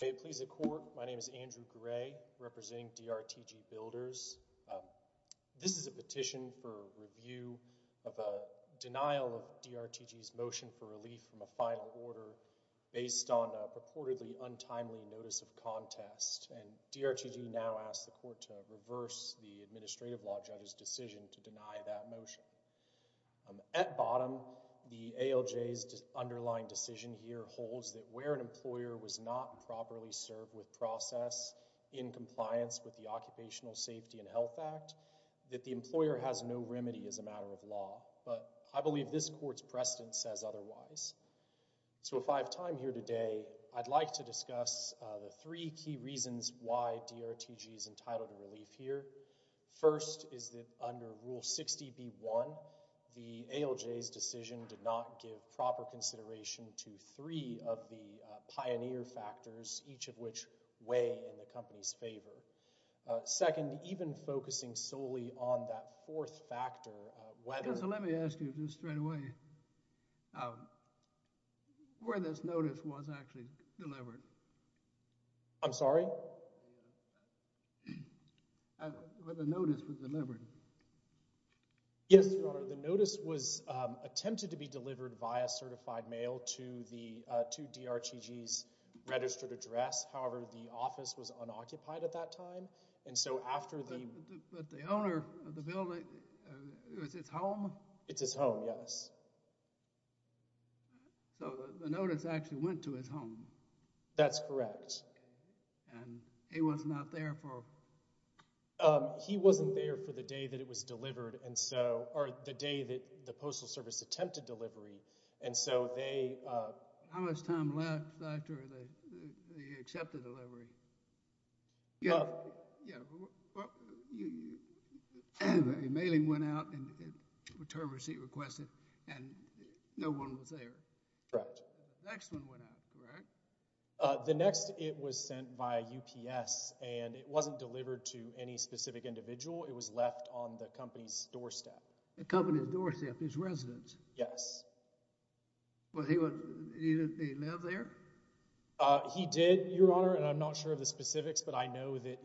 May it please the Court, my name is Andrew Gray, representing D.R.T.G. Builders. This is a petition for review of a denial of D.R.T.G.'s motion for relief from a final order based on a purportedly untimely notice of contest, and D.R.T.G. now asks the Court to reverse the Administrative Law Judge's decision to deny that motion. At bottom, the ALJ's underlying decision here holds that where an employer was not properly served with process in compliance with the Occupational Safety and Health Act, that the employer has no remedy as a matter of law, but I believe this Court's precedent says otherwise. So if I have time here today, I'd like to discuss the three key reasons why D.R.T.G.'s decision is entitled in relief here. First is that under Rule 60b.1, the ALJ's decision did not give proper consideration to three of the pioneer factors, each of which weigh in the company's favor. Second, even focusing solely on that fourth factor, whether— So let me ask you this straight away. Where this notice was actually delivered? I'm sorry? Where the notice was delivered? Yes, Your Honor, the notice was attempted to be delivered via certified mail to D.R.T.G.'s registered address. However, the office was unoccupied at that time, and so after the— But the owner of the building, it was his home? It's his home, yes. So the notice actually went to his home? That's correct. And he was not there for— He wasn't there for the day that it was delivered, and so—or the day that the Postal Service attempted delivery, and so they— How much time left after they accepted the delivery? Yeah. Yeah. Well, the mailing went out, and a return receipt requested, and no one was there. Correct. The next one went out, correct? The next, it was sent via UPS, and it wasn't delivered to any specific individual. It was left on the company's doorstep. The company's doorstep, his residence? Yes. Well, he lived there? He did, Your Honor, and I'm not sure of the specifics, but I know that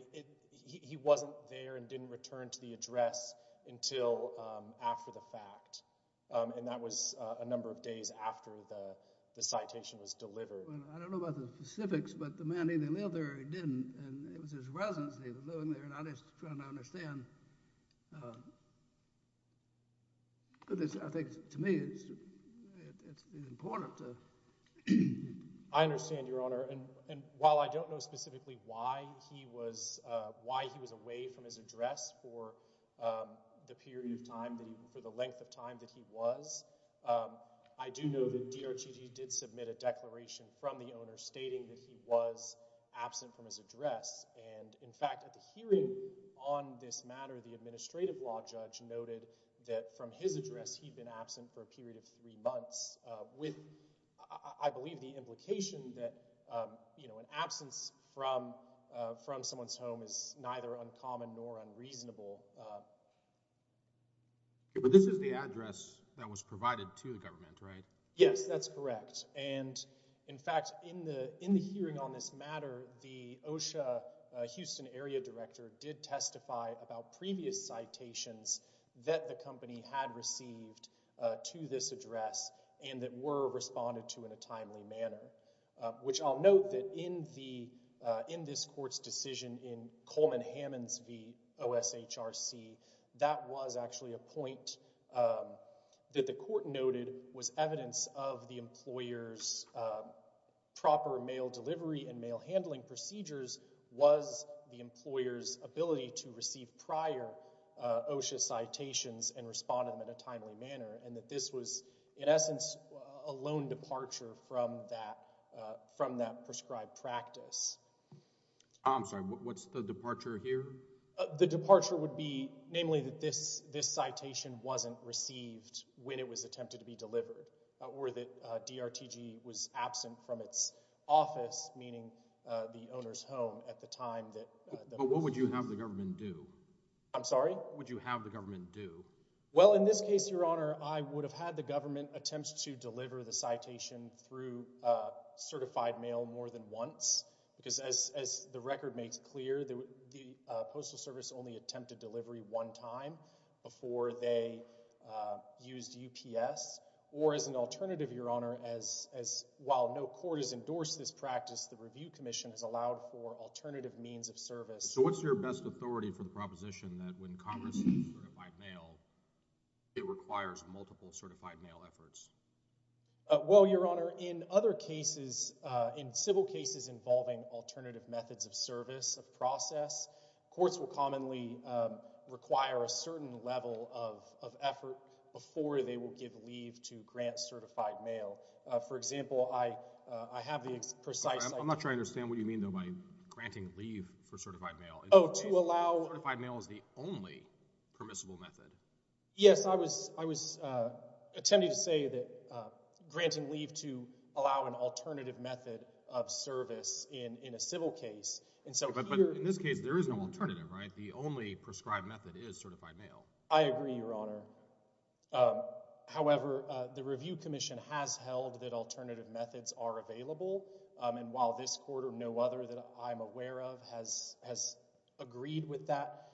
he wasn't there and didn't return to the address until after the fact, and that was a number of days after the citation was delivered. Well, I don't know about the specifics, but the man either lived there or he didn't, and it was his residence that he was living there, and I'm just trying to understand, because I think, to me, it's important to— I understand, Your Honor, and while I don't know specifically why he was away from his address for the period of time, for the length of time that he was, I do know that DRTG did submit a declaration from the owner stating that he was absent from his address, and, in fact, at the hearing on this matter, the administrative law judge noted that from his address, he'd been absent for a period of three months, with, I believe, the implication that an absence from someone's home is neither uncommon nor unreasonable. But this is the address that was provided to the government, right? Yes, that's correct. And, in fact, in the hearing on this matter, the OSHA Houston area director did testify about previous citations that the company had received to this address and that were responded to in a timely manner, which I'll note that in this Court's decision in Coleman of the employer's proper mail delivery and mail handling procedures was the employer's ability to receive prior OSHA citations and respond to them in a timely manner, and that this was, in essence, a lone departure from that prescribed practice. I'm sorry, what's the departure here? The departure would be, namely, that this citation wasn't received when it was attempted to be delivered, or that DRTG was absent from its office, meaning the owner's home, at the time that... But what would you have the government do? I'm sorry? What would you have the government do? Well, in this case, Your Honor, I would have had the government attempt to deliver the citation through certified mail more than once, because as the record makes clear, the alternative, Your Honor, as while no court has endorsed this practice, the Review Commission has allowed for alternative means of service. So what's your best authority for the proposition that when Congress receives certified mail, it requires multiple certified mail efforts? Well, Your Honor, in other cases, in civil cases involving alternative methods of service, of process, courts will commonly require a certain level of effort before they will give leave to grant certified mail. For example, I have the precise... I'm not sure I understand what you mean, though, by granting leave for certified mail. Oh, to allow... Certified mail is the only permissible method. Yes, I was attempting to say that granting leave to allow an alternative method of service in a civil case, and so here... But in this case, there is no alternative, right? The only prescribed method is certified mail. I agree, Your Honor. However, the Review Commission has held that alternative methods are available, and while this court or no other that I'm aware of has agreed with that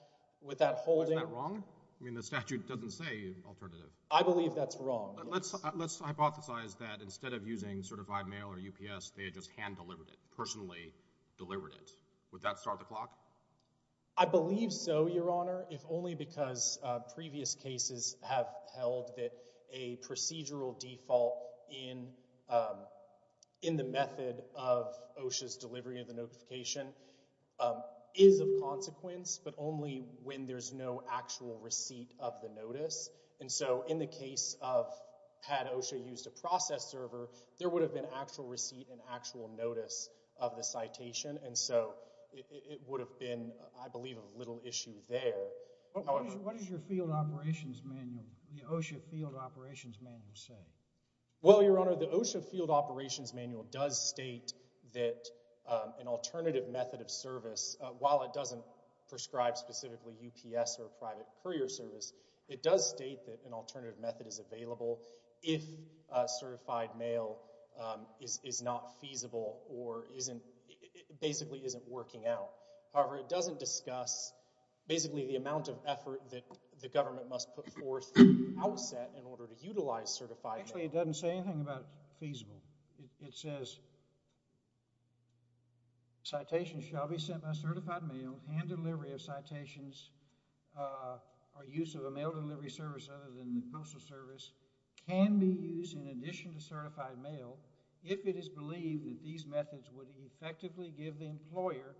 holding... Isn't that wrong? I mean, the statute doesn't say alternative. I believe that's wrong. Let's hypothesize that instead of using certified mail or UPS, they had just hand-delivered it, personally delivered it. Would that start the clock? I believe so, Your Honor, if only because previous cases have held that a procedural default in the method of OSHA's delivery of the notification is of consequence, but only when there's no actual receipt of the notice, and so in the case of had OSHA used a process server, there would have been actual receipt and actual notice of the citation, and so it would have been, I believe, a little issue there. What does your field operations manual, the OSHA field operations manual, say? Well, Your Honor, the OSHA field operations manual does state that an alternative method of service, while it doesn't prescribe specifically UPS or private courier service, it does state that an alternative method is available if certified mail is not feasible or basically isn't working out. However, it doesn't discuss basically the amount of effort that the government must put forth to outset in order to utilize certified mail. Actually, it doesn't say anything about feasible. It says, citations shall be sent by certified mail and delivery of citations or use of a mail delivery service other than the postal service can be used in addition to certified mail if it is believed that these methods would effectively give the employer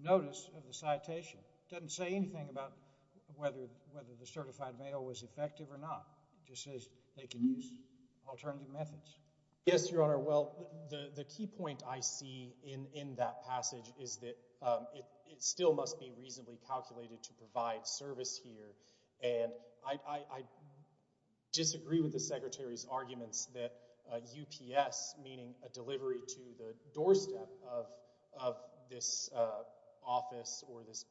notice of the citation. It doesn't say anything about whether the certified mail was effective or not. It just says they can use alternative methods. Yes, Your Honor. Well, the key point I see in that passage is that it still must be reasonably calculated to provide service here, and I disagree with the Secretary's arguments that UPS, meaning a delivery to the doorstep of this office or this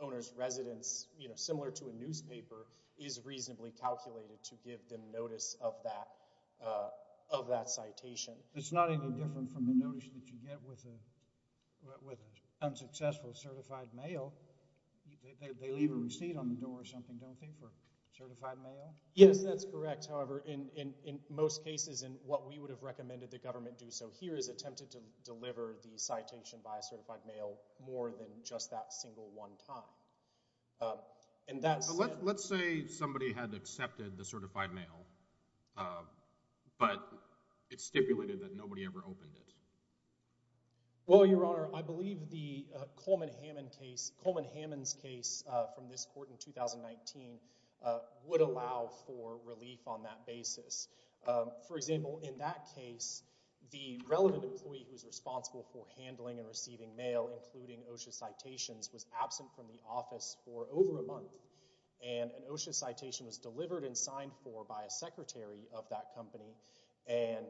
owner's residence, you know, similar to a newspaper, is reasonably calculated to give them notice of that citation. It's not any different from the notice that you get with unsuccessful certified mail. They leave a receipt on the door or something, don't they, for certified mail? Yes, that's correct. However, in most cases, in what we would have recommended the government do so here is attempted to deliver the citation by certified mail more than just that single one time. Let's say somebody had accepted the certified mail, but it's stipulated that nobody ever opened it. Well, Your Honor, I believe the Coleman-Hammond case, Coleman-Hammond's case from this court in 2019, would allow for relief on that basis. For example, in that case, the relevant employee who's responsible for handling and receiving mail, including OSHA citations, was absent from the office for over a month, and an OSHA citation was delivered and signed for by a secretary of that company, and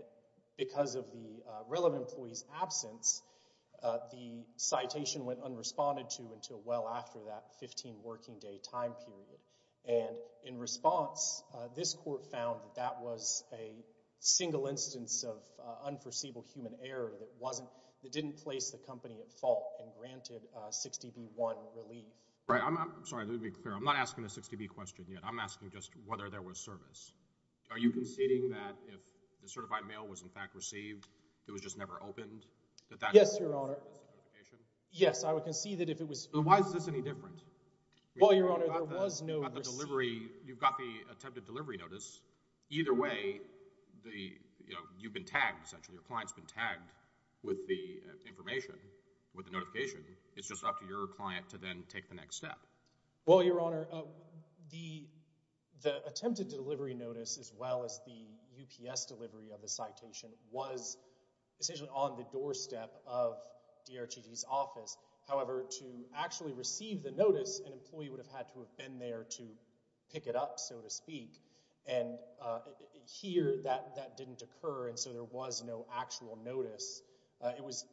because of the relevant employee's absence, the citation went unresponded to until well after that 15 working day time period. And in response, this court found that that was a single instance of unforeseeable human error that didn't place the company at fault and granted 60B1 relief. Right. I'm sorry, let me be clear. I'm not asking a 60B question yet. I'm asking just whether there was service. Are you conceding that if the certified mail was in fact received, it was just never opened? Yes, Your Honor. Yes, I would concede that if it was— Then why is this any different? Well, Your Honor, there was no receipt. You've got the attempted delivery notice. Either way, you've been tagged, essentially. Your client's been tagged with the information, with the notification. It's just up to your client to then take the next step. Well, Your Honor, the attempted delivery notice as well as the UPS delivery of the citation was essentially on the doorstep of DRTG's office. However, to actually receive the notice, an employee would have had to have been there to pick it up, so to speak. And here, that didn't occur, and so there was no actual notice. It was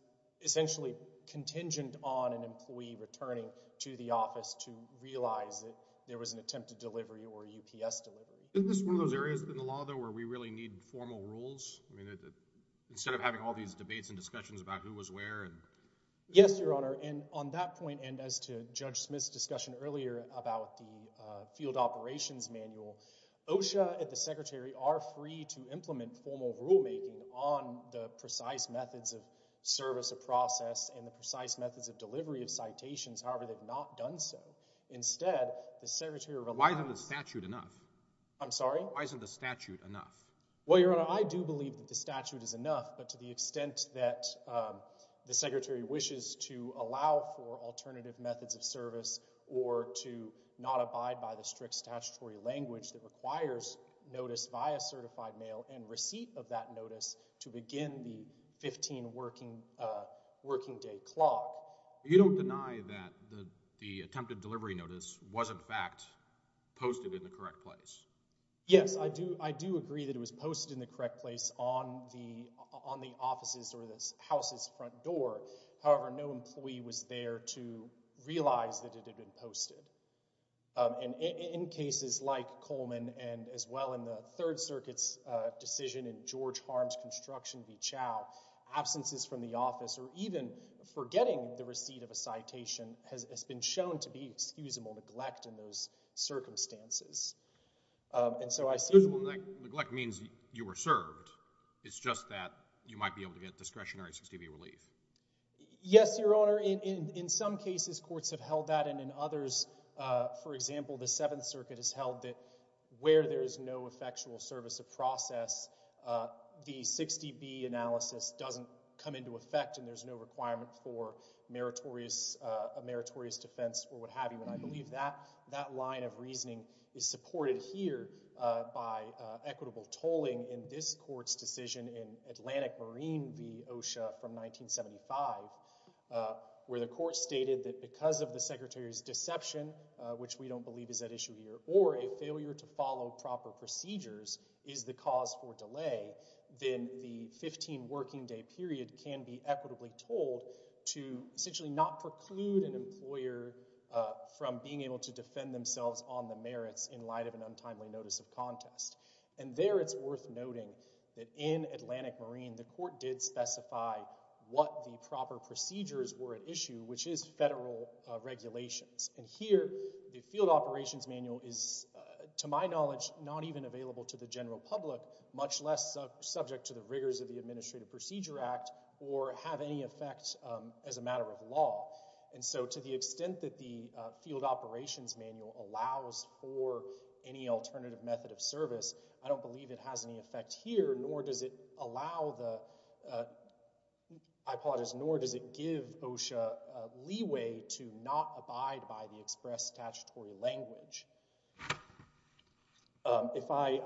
essentially contingent on an employee returning to the office to realize that there was an attempted delivery or a UPS delivery. Isn't this one of those areas in the law, though, where we really need formal rules? I mean, instead of having all these debates and discussions about who was where and— Yes, Your Honor, and on that point, and as to Judge Smith's discussion earlier about the field operations manual, OSHA and the Secretary are free to implement formal rulemaking on the precise methods of service of process and the precise methods of delivery of citations. However, they've not done so. Instead, the Secretary— Why isn't the statute enough? I'm sorry? Why isn't the statute enough? Well, Your Honor, I do believe that the statute is enough, but to the extent that the Secretary wishes to allow for alternative methods of service or to not abide by the strict statutory language that requires notice via certified mail and receipt of that notice to begin the 15 working day clock— You don't deny that the attempted delivery notice was, in fact, posted in the correct place? Yes, I do agree that it was posted in the correct place on the offices or this house's front door. However, no employee was there to realize that it had been posted. And in cases like Coleman and as well in the Third Circuit's decision in George Harms' construction v. Chau, absences from the office or even forgetting the receipt of a citation has been shown to be excusable neglect in those circumstances. And so I see— Excusable neglect means you were served. It's just that you might be able to get discretionary 60-day relief. Yes, Your Honor. In some cases, courts have held that, and in others, for example, the Seventh Circuit has held that where there is no effectual service of process, the 60B analysis doesn't come into effect and there's no requirement for a meritorious defense or what have you. And I believe that that line of reasoning is supported here by equitable tolling in this court's decision in Atlantic Marine v. OSHA from 1975 where the court stated that because of the secretary's deception, which we don't believe is at issue here, or a failure to follow proper procedures is the cause for delay, then the 15-working-day period can be equitably tolled to essentially not preclude an employer from being able to defend themselves on the merits in light of an untimely notice of contest. And there it's worth noting that in Atlantic Marine, the court did specify what the proper procedures were at issue, which is federal regulations. And here, the field operations manual is, to my knowledge, not even available to the general public, much less subject to the rigors of the Administrative Procedure Act or have any effect as a matter of law. And so to the extent that the field operations manual allows for any alternative method of practice, I don't believe it has any effect here, nor does it allow the, I apologize, nor does it give OSHA leeway to not abide by the express statutory language. If I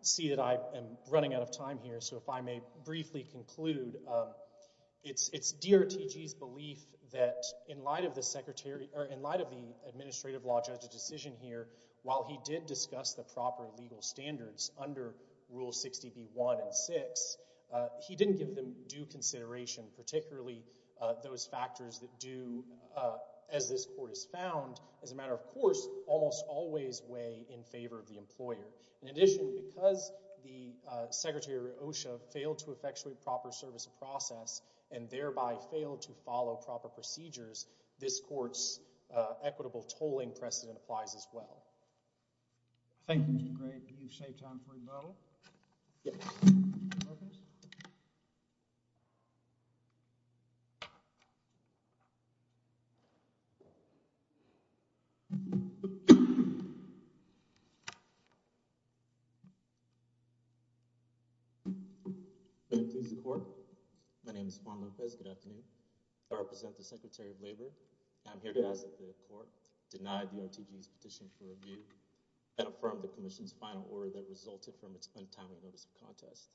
see that I am running out of time here, so if I may briefly conclude, it's DRTG's belief that in light of the Administrative Law Judge's decision here, while he did discuss the proper legal standards under Rule 60b-1 and 6, he didn't give them due consideration, particularly those factors that do, as this court has found, as a matter of course, almost always weigh in favor of the employer. In addition, because the Secretary OSHA failed to effectuate proper service of process and thereby failed to follow proper procedures, this court's equitable tolling precedent applies as well. Thank you, Mr. Gray. Do we have some time for rebuttal? Yes. Okay. Good afternoon, court. My name is Farmer Fez. Good afternoon. I represent the Secretary of Labor, and I'm here to ask that the court deny DRTG's petition for rebuke and affirm the commission's final order that resulted from its untimely notice of contest.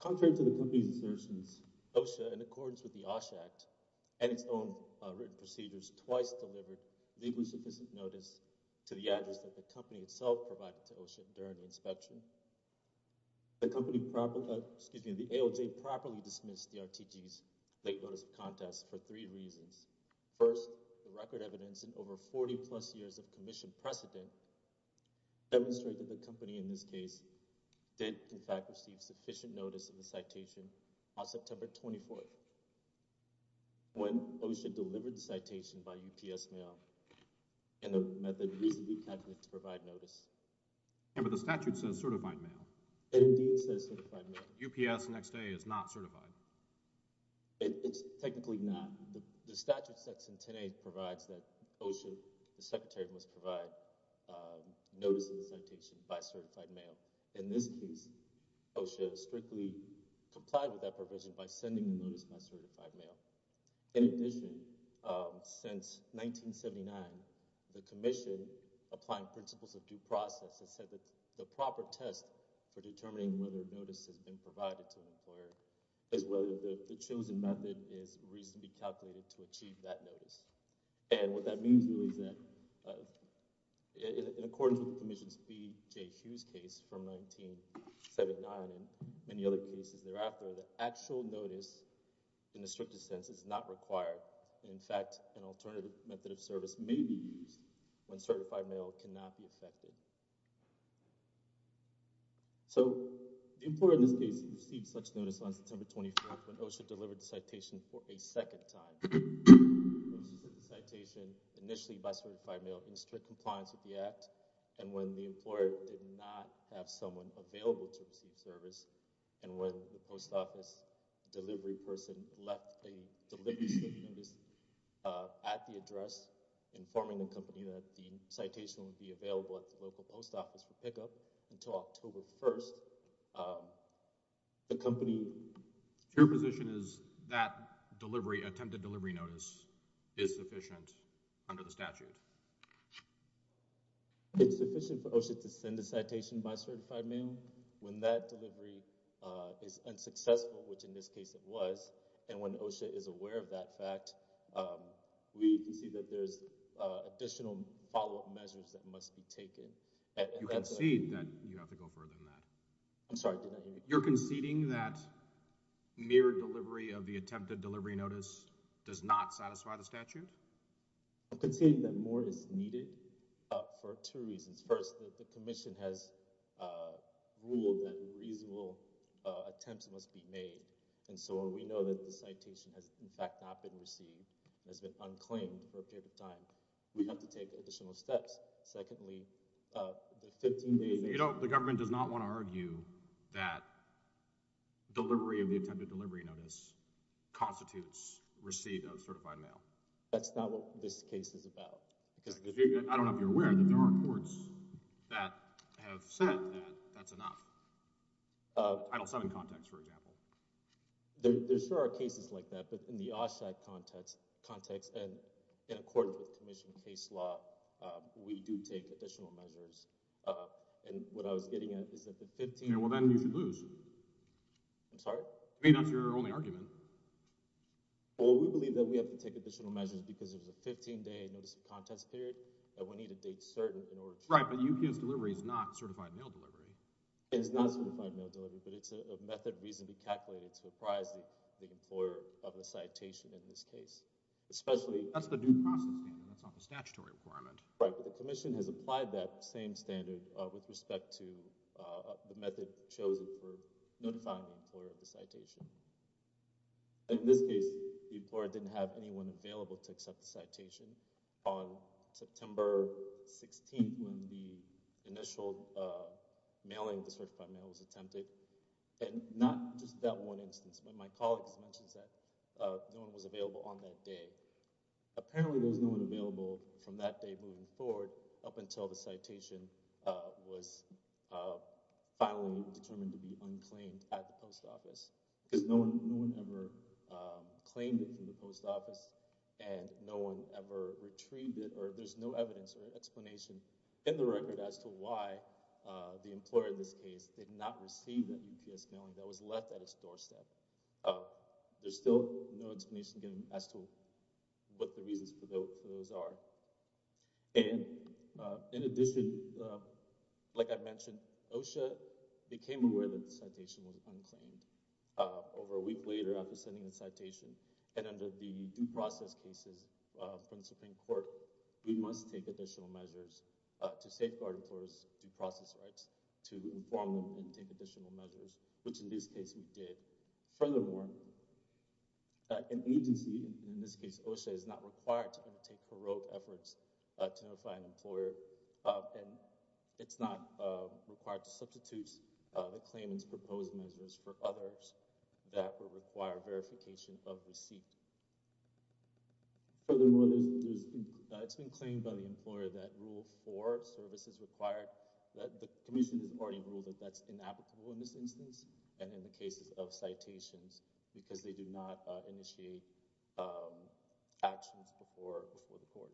Contrary to the company's assertions, OSHA, in accordance with the OSHA Act and its own written procedures, twice delivered legally sufficient notice to the address that the company itself provided to OSHA during the inspection. The company, excuse me, the ALJ properly dismissed DRTG's late notice of contest for three reasons. First, the record evidence in over 40-plus years of commission precedent demonstrated that the company, in this case, did, in fact, receive sufficient notice of the citation on September 24th when OSHA delivered the citation by UPS mail and the method used to provide notice. But the statute says certified mail. It indeed says certified mail. UPS next day is not certified. It's technically not. The statute section 10A provides that OSHA, the Secretary, must provide notice of the citation by certified mail. In this case, OSHA strictly complied with that provision by sending the notice by certified mail. In addition, since 1979, the commission, applying principles of due process, has said that the proper test for determining whether a notice has been provided to an employer is whether the chosen method is reasonably calculated to achieve that notice. And what that means is that in accordance with the commission's B.J. Hughes case from 1979 and many other cases thereafter, the actual notice, in the strictest sense, is not required. In fact, an alternative method of service may be used when certified mail cannot be affected. So the employer in this case received such notice on September 25th when OSHA delivered the citation for a second time. OSHA sent the citation initially by certified mail in strict compliance with the Act. And when the employer did not have someone available to receive service, and when the post office delivery person left a delivery notice at the address informing the company that the citation would be available at the local post office for pickup until October 1st, the company's position is that attempted delivery notice is sufficient under the statute. It's sufficient for OSHA to send a citation by certified mail when that delivery is unsuccessful, which in this case it was. And when OSHA is aware of that fact, we can see that there's additional follow-up measures that must be taken. You concede that—you have to go further than that. I'm sorry. You're conceding that mere delivery of the attempted delivery notice does not satisfy the statute? I'm conceding that more is needed for two reasons. First, the commission has ruled that reasonable attempts must be made. And so we know that the citation has in fact not been received, has been unclaimed for a period of time. We have to take additional steps. Secondly, the 15 days— You know, the government does not want to argue that delivery of the attempted delivery notice constitutes receipt of certified mail. That's not what this case is about. I don't know if you're aware, but there are courts that have said that that's enough. Title VII context, for example. There are cases like that, but in the OSHA context and in a court-of-commissioned case law, we do take additional measures. And what I was getting at is that the 15— Well, then you should lose. I'm sorry? I mean, that's your only argument. Well, we believe that we have to take additional measures because it was a 15-day notice of contents period that we need to date certain in order to— Right, but UQ's delivery is not certified mail delivery. It's not certified mail delivery, but it's a method reasonably calculated to apprise the employer of the citation in this case, especially— That's the due process standard. That's not the statutory requirement. Right, but the Commission has applied that same standard with respect to the method chosen for notifying the employer of the citation. In this case, the employer didn't have anyone available to accept the citation. On September 16th, when the initial mailing of the certified mail was attempted, and not just that one instance, but my colleagues mentioned that no one was available on that day. Apparently, there was no one available from that day moving forward up until the citation was finally determined to be unclaimed at the post office because no one ever claimed it from the post office, and no one ever retrieved it, or there's no evidence or explanation in the record as to why the employer in this case did not receive that UPS mailing that was left at its doorstep. There's still no explanation given as to what the reasons for those are. In addition, like I mentioned, OSHA became aware that the citation would be unclaimed over a week later after sending the citation, and under the due process cases from the Supreme Court, we must take additional measures to safeguard and enforce due process rights to inform them to take additional measures, which in this case we did. Furthermore, an agency, in this case OSHA, is not required to undertake paroled efforts to notify an employer, and it's not required to substitute the claimant's proposed measures for others that would require verification of receipt. Furthermore, it's been claimed by the employer that Rule 4, Services Required, that the Commission has already ruled that that's inapplicable in this instance, and in the cases of citations because they do not initiate actions before the court.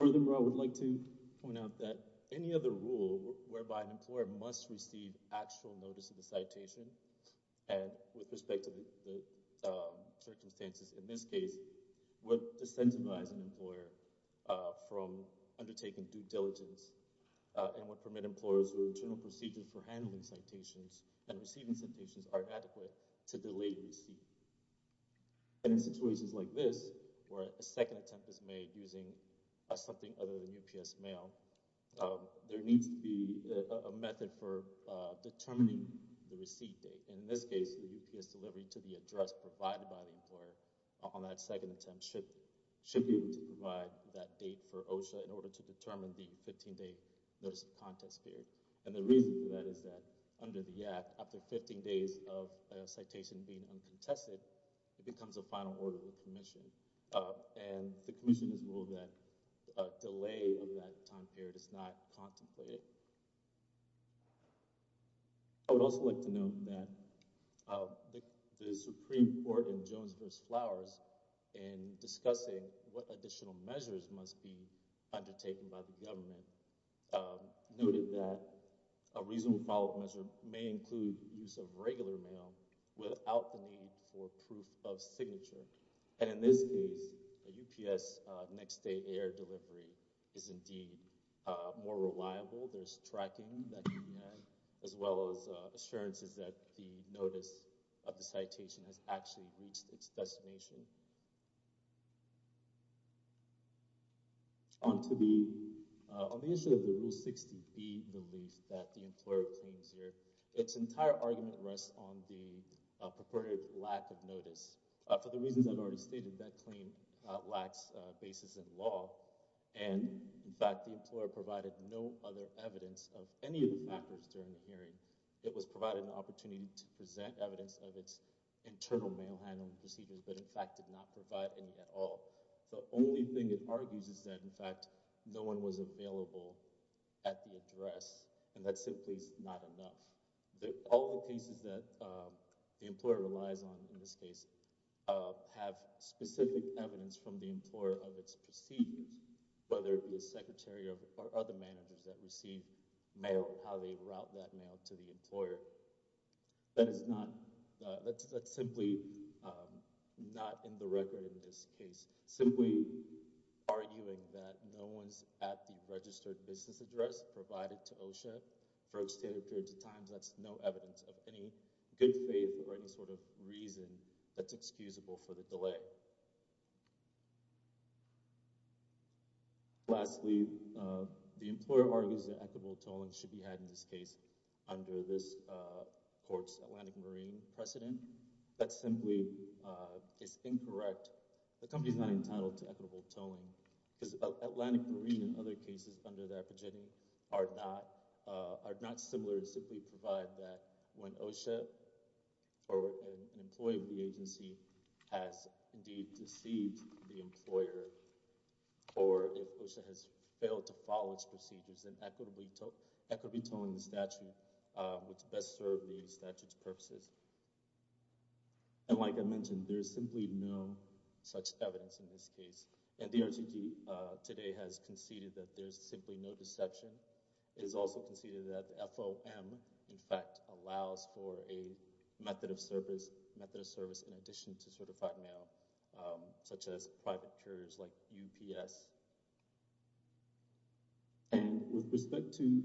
Furthermore, I would like to point out that any other rule whereby an employer must receive actual notice of the citation, and with respect to the circumstances in this case, would de-sensitize an employer from undertaking due diligence, and would permit employers where internal procedures for handling citations and receiving citations are adequate to delay receipt. And in situations like this, where a second attempt is made using something other than determining the receipt date, in this case, the UPS delivery to be addressed provided by the employer on that second attempt should be able to provide that date for OSHA in order to determine the 15-day notice of contest period. And the reason for that is that under the Act, after 15 days of a citation being uncontested, it becomes a final order of the Commission, and the Commission has ruled that a delay of that time period is not contemplated. I would also like to note that the Supreme Court in Jones v. Flowers, in discussing what additional measures must be undertaken by the government, noted that a reasonable follow-up measure may include the use of regular mail without the need for proof of signature, and in this case, the UPS next-day air delivery is indeed more reliable. There's tracking as well as assurances that the notice of the citation has actually reached its destination. On the issue of the Rule 60B, the lease that the employer claims here, its entire argument for the reasons I've already stated, that claim lacks basis in law, and in fact, the employer provided no other evidence of any of the factors during the hearing. It was provided an opportunity to present evidence of its internal mail handling procedures, but in fact did not provide any at all. The only thing it argues is that, in fact, no one was available at the address, and that simply is not enough. All the cases that the employer relies on in this case have specific evidence from the employer of its receipt, whether it be the secretary or other managers that receive mail, how they route that mail to the employer. That is not, that's simply not in the record in this case, simply arguing that no one's at the registered business address provided to OSHA. Folks stated 30 times that's no evidence of any good faith or any sort of reason that's excusable for the delay. Lastly, the employer argues that equitable tolling should be had in this case under this court's Atlantic Marine precedent. That simply is incorrect. The company's not entitled to equitable tolling. Atlantic Marine and other cases under that precedent are not similar, simply provide that when OSHA or an employee of the agency has indeed deceived the employer or a person has failed to follow its procedures, then equitably tolling the statute would best serve the statute's purposes. And like I mentioned, there's simply no such evidence in this case. And the RGP today has conceded that there's simply no deception. It is also conceded that FOM, in fact, allows for a method of service in addition to certified mail, such as private carriers like UPS. With respect to,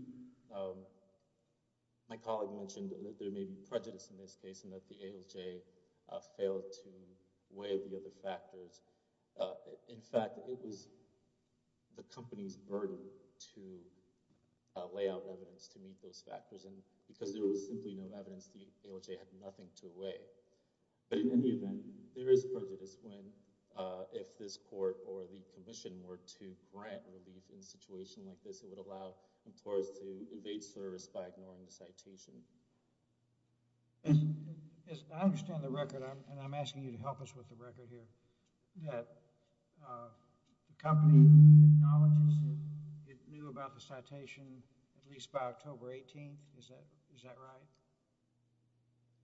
my colleague mentioned that there may be prejudice in this case and that the ALJ failed to weigh the other factors. In fact, it was the company's burden to lay out evidence to meet those factors. And because there was simply no evidence, the ALJ had nothing to weigh. But in any event, there is prejudice when, if this court or the commission were to grant relief in a situation like this, it would allow employers to evade service by ignoring the citation. I understand the record, and I'm asking you to help us with the record here, that the company acknowledges that it knew about the citation at least by October 18th. Is that right?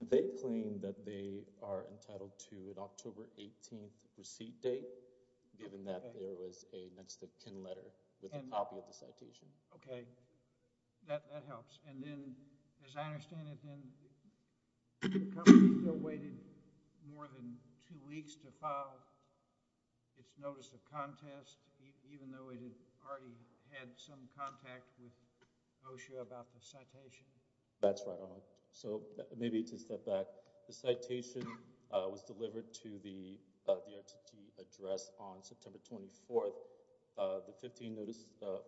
They claim that they are entitled to an October 18th receipt date, given that there was a next of kin letter with a copy of the citation. Okay. That helps. And then, as I understand it, then the company still waited more than two weeks to file its notice of contest, even though it had already had some contact with OSHA about the citation? That's right, Alan. So, maybe to step back, the citation was delivered to the RTT address on September 24th. The 15-notice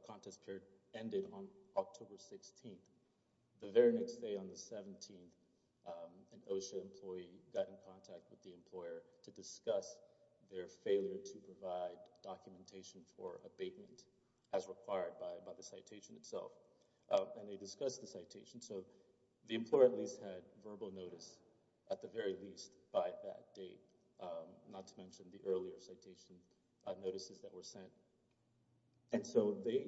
contest period ended on October 16th. The very next day, on the 17th, an OSHA employee got in contact with the employer to discuss their failure to provide documentation for abatement as required by the citation itself. And they discussed the citation. So, the employer at least had verbal notice, at the very least, by that date, not to mention the earlier citation notices that were sent. And so, they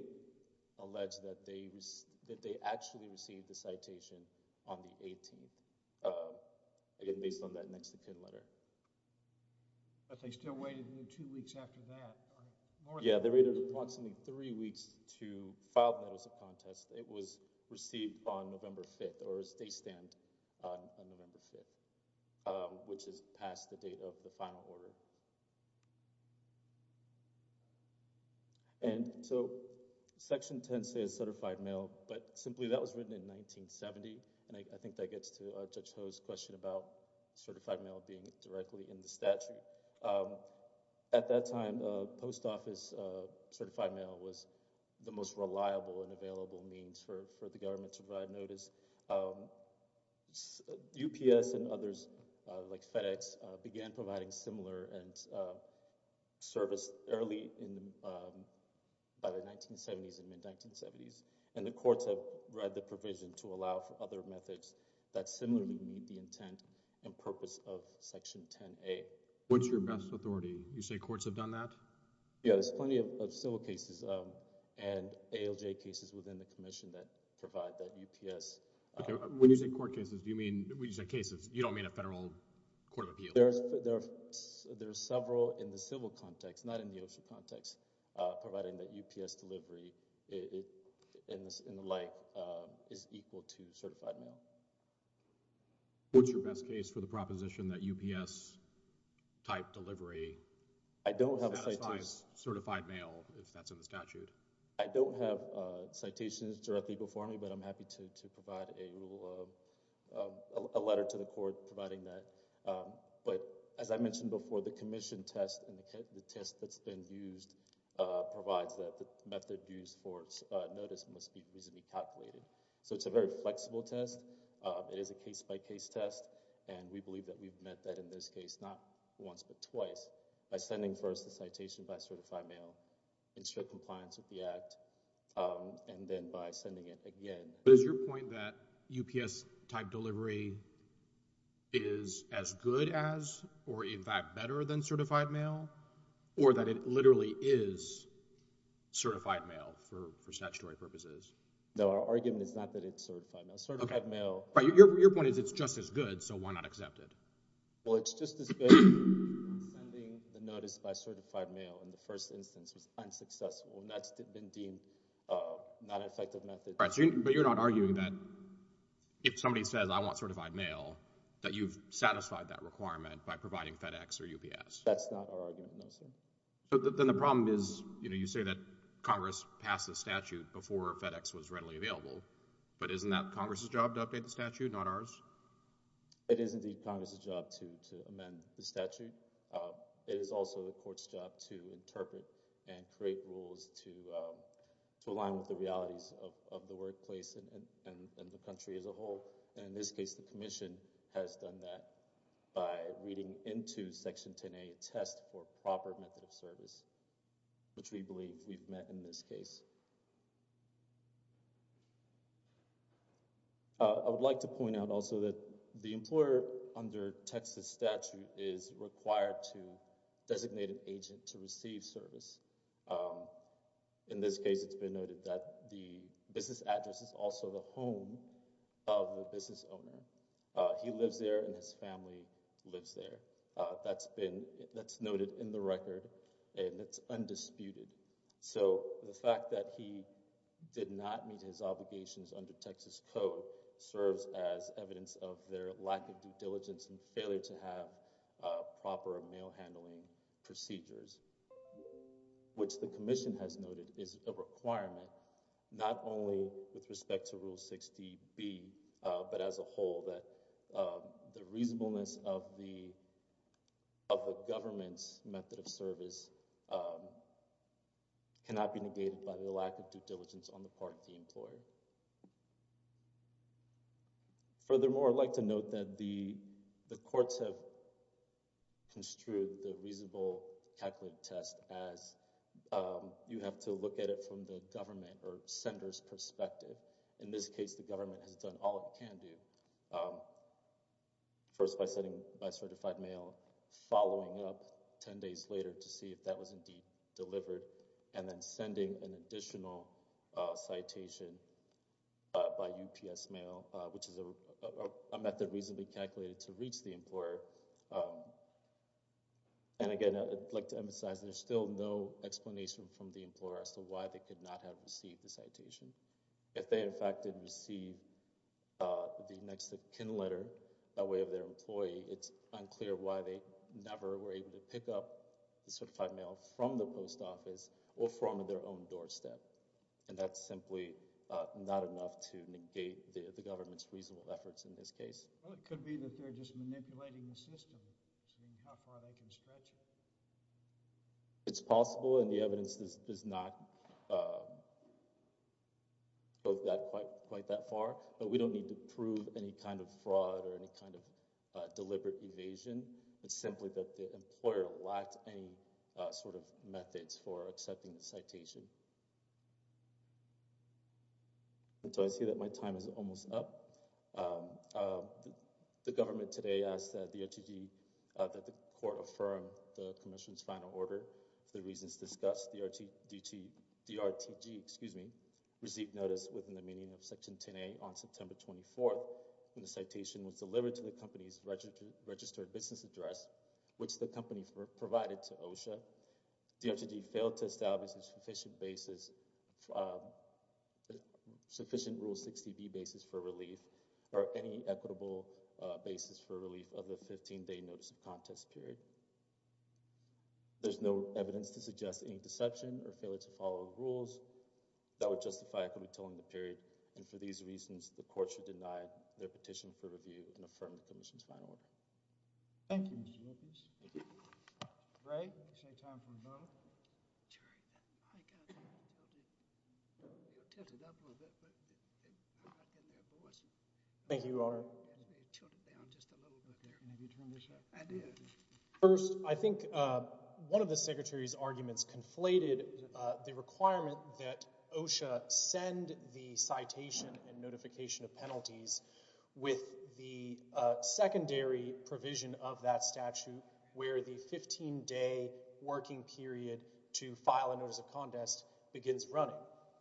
allege that they actually received the citation on the 18th, again, based on that next of kin letter. But they still waited another two weeks after that? Yeah, they waited approximately three weeks to file the notice of contest. It was received on November 5th, or a state stamp on November 5th, which is past the date of the final order. And so, Section 10 says certified mail, but simply that was written in 1970, and I think that gets to Judge Ho's question about certified mail being directly in the statute. At that time, post office certified mail was the most reliable and available means for the government to provide notice. UPS and others, like FedEx, began providing similar service early in the 1970s and mid-1970s. And the courts have read the provision to allow for other methods that similarly meet the intent and purpose of Section 10A. What's your best authority? You say courts have done that? Yeah, there's plenty of civil cases and ALJ cases within the commission that provide that UPS... When you say court cases, do you mean... when you say cases, you don't mean a federal court of appeal? There's several in the civil context, not in the OSHA context, providing that UPS delivery in the light is equal to certified mail. What's your best case for the proposition that UPS-type delivery satisfies certified mail if that's in the statute? I don't have citations directly before me, but I'm happy to provide a letter to the court providing that. But as I mentioned before, the commission test and the test that's been used provides that the method used for notice must be easily calculated. So it's a very flexible test. It is a case-by-case test, and we believe that we've met that in this case, not once but twice, by sending first a citation by certified mail in strict compliance with the Act, and then by sending it again. But is your point that UPS-type delivery is as good as or, in fact, better than certified mail, or that it literally is certified mail for statutory purposes? No, our argument is not that it's certified mail. Your point is it's just as good, so why not accept it? Well, it's just as good as sending the notice by certified mail in the first instance is unsuccessful, and that's been deemed a non-effective method. But you're not arguing that if somebody says, I want certified mail, that you've satisfied that requirement by providing FedEx or UPS? That's not our argument, no, sir. Then the problem is you say that Congress passed the statute before FedEx was readily available, but isn't that Congress' job to update the statute, not ours? It is indeed Congress' job to amend the statute. It is also the Court's job to interpret and create rules to align with the realities of the workplace and the country as a whole, and in this case, the Commission has done that by reading into Section 10A, Test for Proper Method of Service, which we believe we've met in this case. I would like to point out also that the employer under Texas statute is required to designate an agent to receive service. In this case, it's been noted that the business address is also the home of the business owner. He lives there, and his family lives there. That's noted in the record, and it's undisputed. The fact that he did not meet his obligations under Texas Code serves as evidence of their lack of due diligence and failure to have proper mail handling procedures, which the Commission has noted is a requirement, not only with respect to Rule 60B, but as a whole, that the reasonableness of the government's method of service cannot be negated by their lack of due diligence on the part of the employer. Furthermore, I'd like to note that the courts have construed the reasonable calculated test as you have to look at it from the government or sender's perspective. In this case, the government has done all it can do, first by sending by certified mail, following up 10 days later to see if that was indeed delivered, and then sending an additional citation by UPS mail, which is a method reasonably calculated to reach the employer. Again, I'd like to emphasize there's still no explanation from the employer as to why they could not have received the citation. If they, in fact, didn't receive the next pen letter by way of their employee, it's unclear why they never were able to pick up the certified mail from the post office or from their own doorstep, and that's simply not enough to negate the government's reasonable efforts in this case. Well, it could be that they're just manipulating the system to see how far they can stretch it. It's possible, and the evidence does not go quite that far, but we don't need to prove any kind of fraud or any kind of deliberate evasion. It's simply that the employer lacked any sort of methods for accepting the citation. So I see that my time is almost up. The government today asked the DRTG that the court affirm the commission's final order. The reasons discussed, DRTG received notice within the meaning of Section 10A on September 24th, and the citation was delivered to the company's registered business address, which the company provided to OSHA. DRTG failed to establish a sufficient basis, sufficient Rule 60B basis for relief or any equitable basis for relief of the 15-day notice of contest period. There's no evidence to suggest any deception or failure to follow the rules that would justify equitably tolling the period, and for these reasons, the court should deny the petition for review and affirm the commission's final order. Thank you, Mr. Evans. Great. Same time for both. Thank you, Your Honor. First, I think one of the Secretary's arguments conflated the requirement that OSHA send the 15-day working period to file a notice of contest begins running.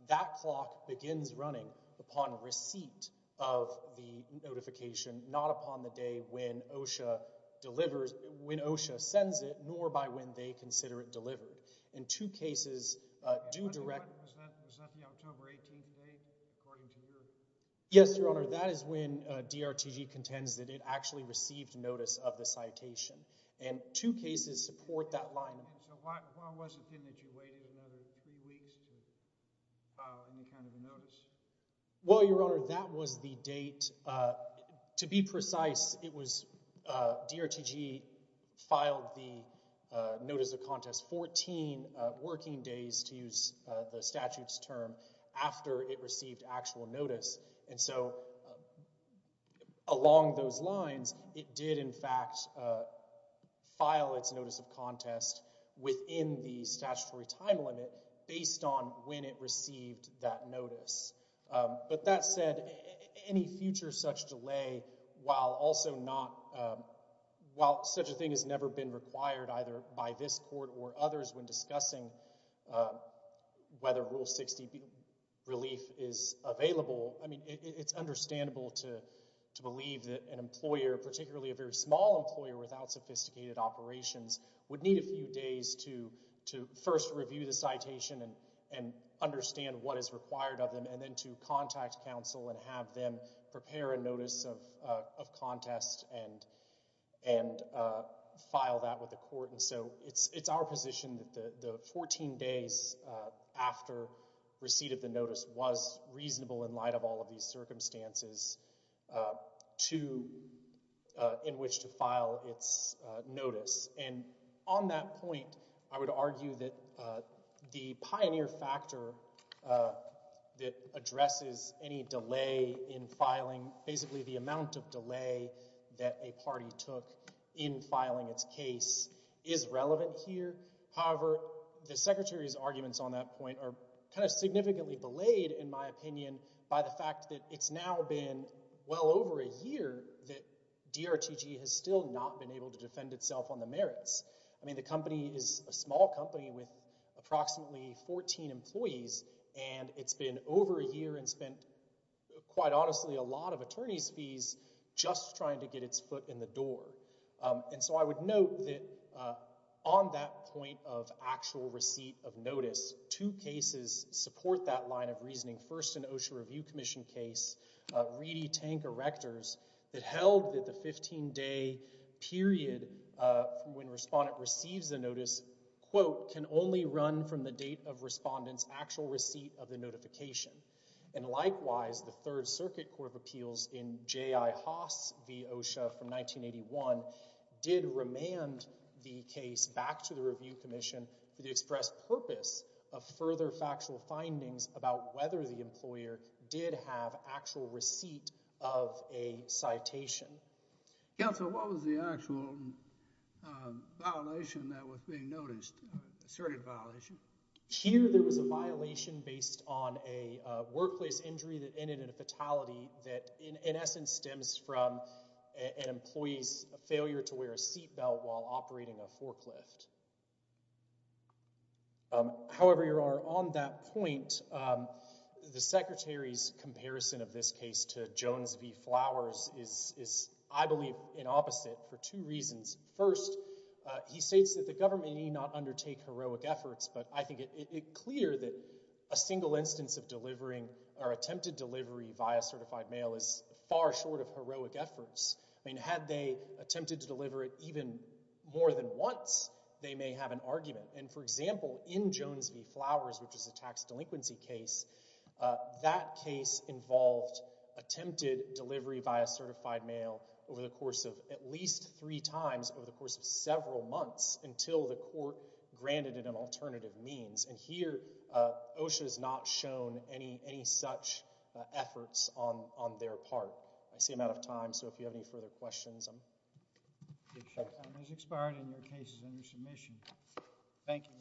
That clock begins running upon receipt of the notification, not upon the day when OSHA delivers, when OSHA sends it, nor by when they consider it delivered. In two cases, due direct— Yes, Your Honor. That is when DRTG contends that it actually received notice of the citation, and two cases support that line. Well, Your Honor, that was the date. To be precise, DRTG filed the notice of contest 14 working days, to use the statute's term, after it received actual notice. And so, along those lines, it did, in fact, file its notice of contest within the statutory time limit, based on when it received that notice. But that said, any future such delay, while such a thing has never been required, either by this Court or others when discussing whether Rule 60 relief is available, I mean, it's understandable to believe that an employer, particularly a very small employer without sophisticated operations, would need a few days to first review the citation and understand what is required of them, and then to contact counsel and have them prepare a notice of So, it's our position that the 14 days after receipt of the notice was reasonable in light of all of these circumstances in which to file its notice. And on that point, I would argue that the pioneer factor that addresses any delay in However, the Secretary's arguments on that point are kind of significantly belayed, in my opinion, by the fact that it's now been well over a year that DRTG has still not been able to defend itself on the merits. I mean, the company is a small company with approximately 14 employees, and it's been over a year and spent, quite honestly, a lot of attorney's fees just trying to get its foot in the door. And so I would note that on that point of actual receipt of notice, two cases support that line of reasoning. First, an OSHA Review Commission case, Reedy Tank Erectors, that held that the 15-day period when a respondent receives a notice, quote, can only run from the date of respondent's actual receipt of the notification. And likewise, the Third Circuit Court of Appeals in J.I. Haas v. OSHA from 1981 did remand the case back to the Review Commission for the express purpose of further factual findings about whether the employer did have actual receipt of a citation. Counsel, what was the actual violation that was being noticed, asserted violation? Here, there was a violation based on a workplace injury that ended in a fatality that, in essence, stems from an employee's failure to wear a seat belt while operating a forklift. However, on that point, the Secretary's comparison of this case to Jones v. Flowers is, I believe, an opposite for two reasons. First, he states that the government need not undertake heroic efforts. But I think it's clear that a single instance of delivering or attempted delivery via certified mail is far short of heroic efforts. Had they attempted to deliver it even more than once, they may have an argument. And for example, in Jones v. Flowers, which is a tax delinquency case, that case involved attempted delivery via certified mail over the course of at least three times over the course of several months until the court granted it an alternative means. And here, OSHA has not shown any such efforts on their part. I see I'm out of time, so if you have any further questions, I'm— Thank you, sir. Time has expired on the cases under submission. Thank you, Mr. Gray.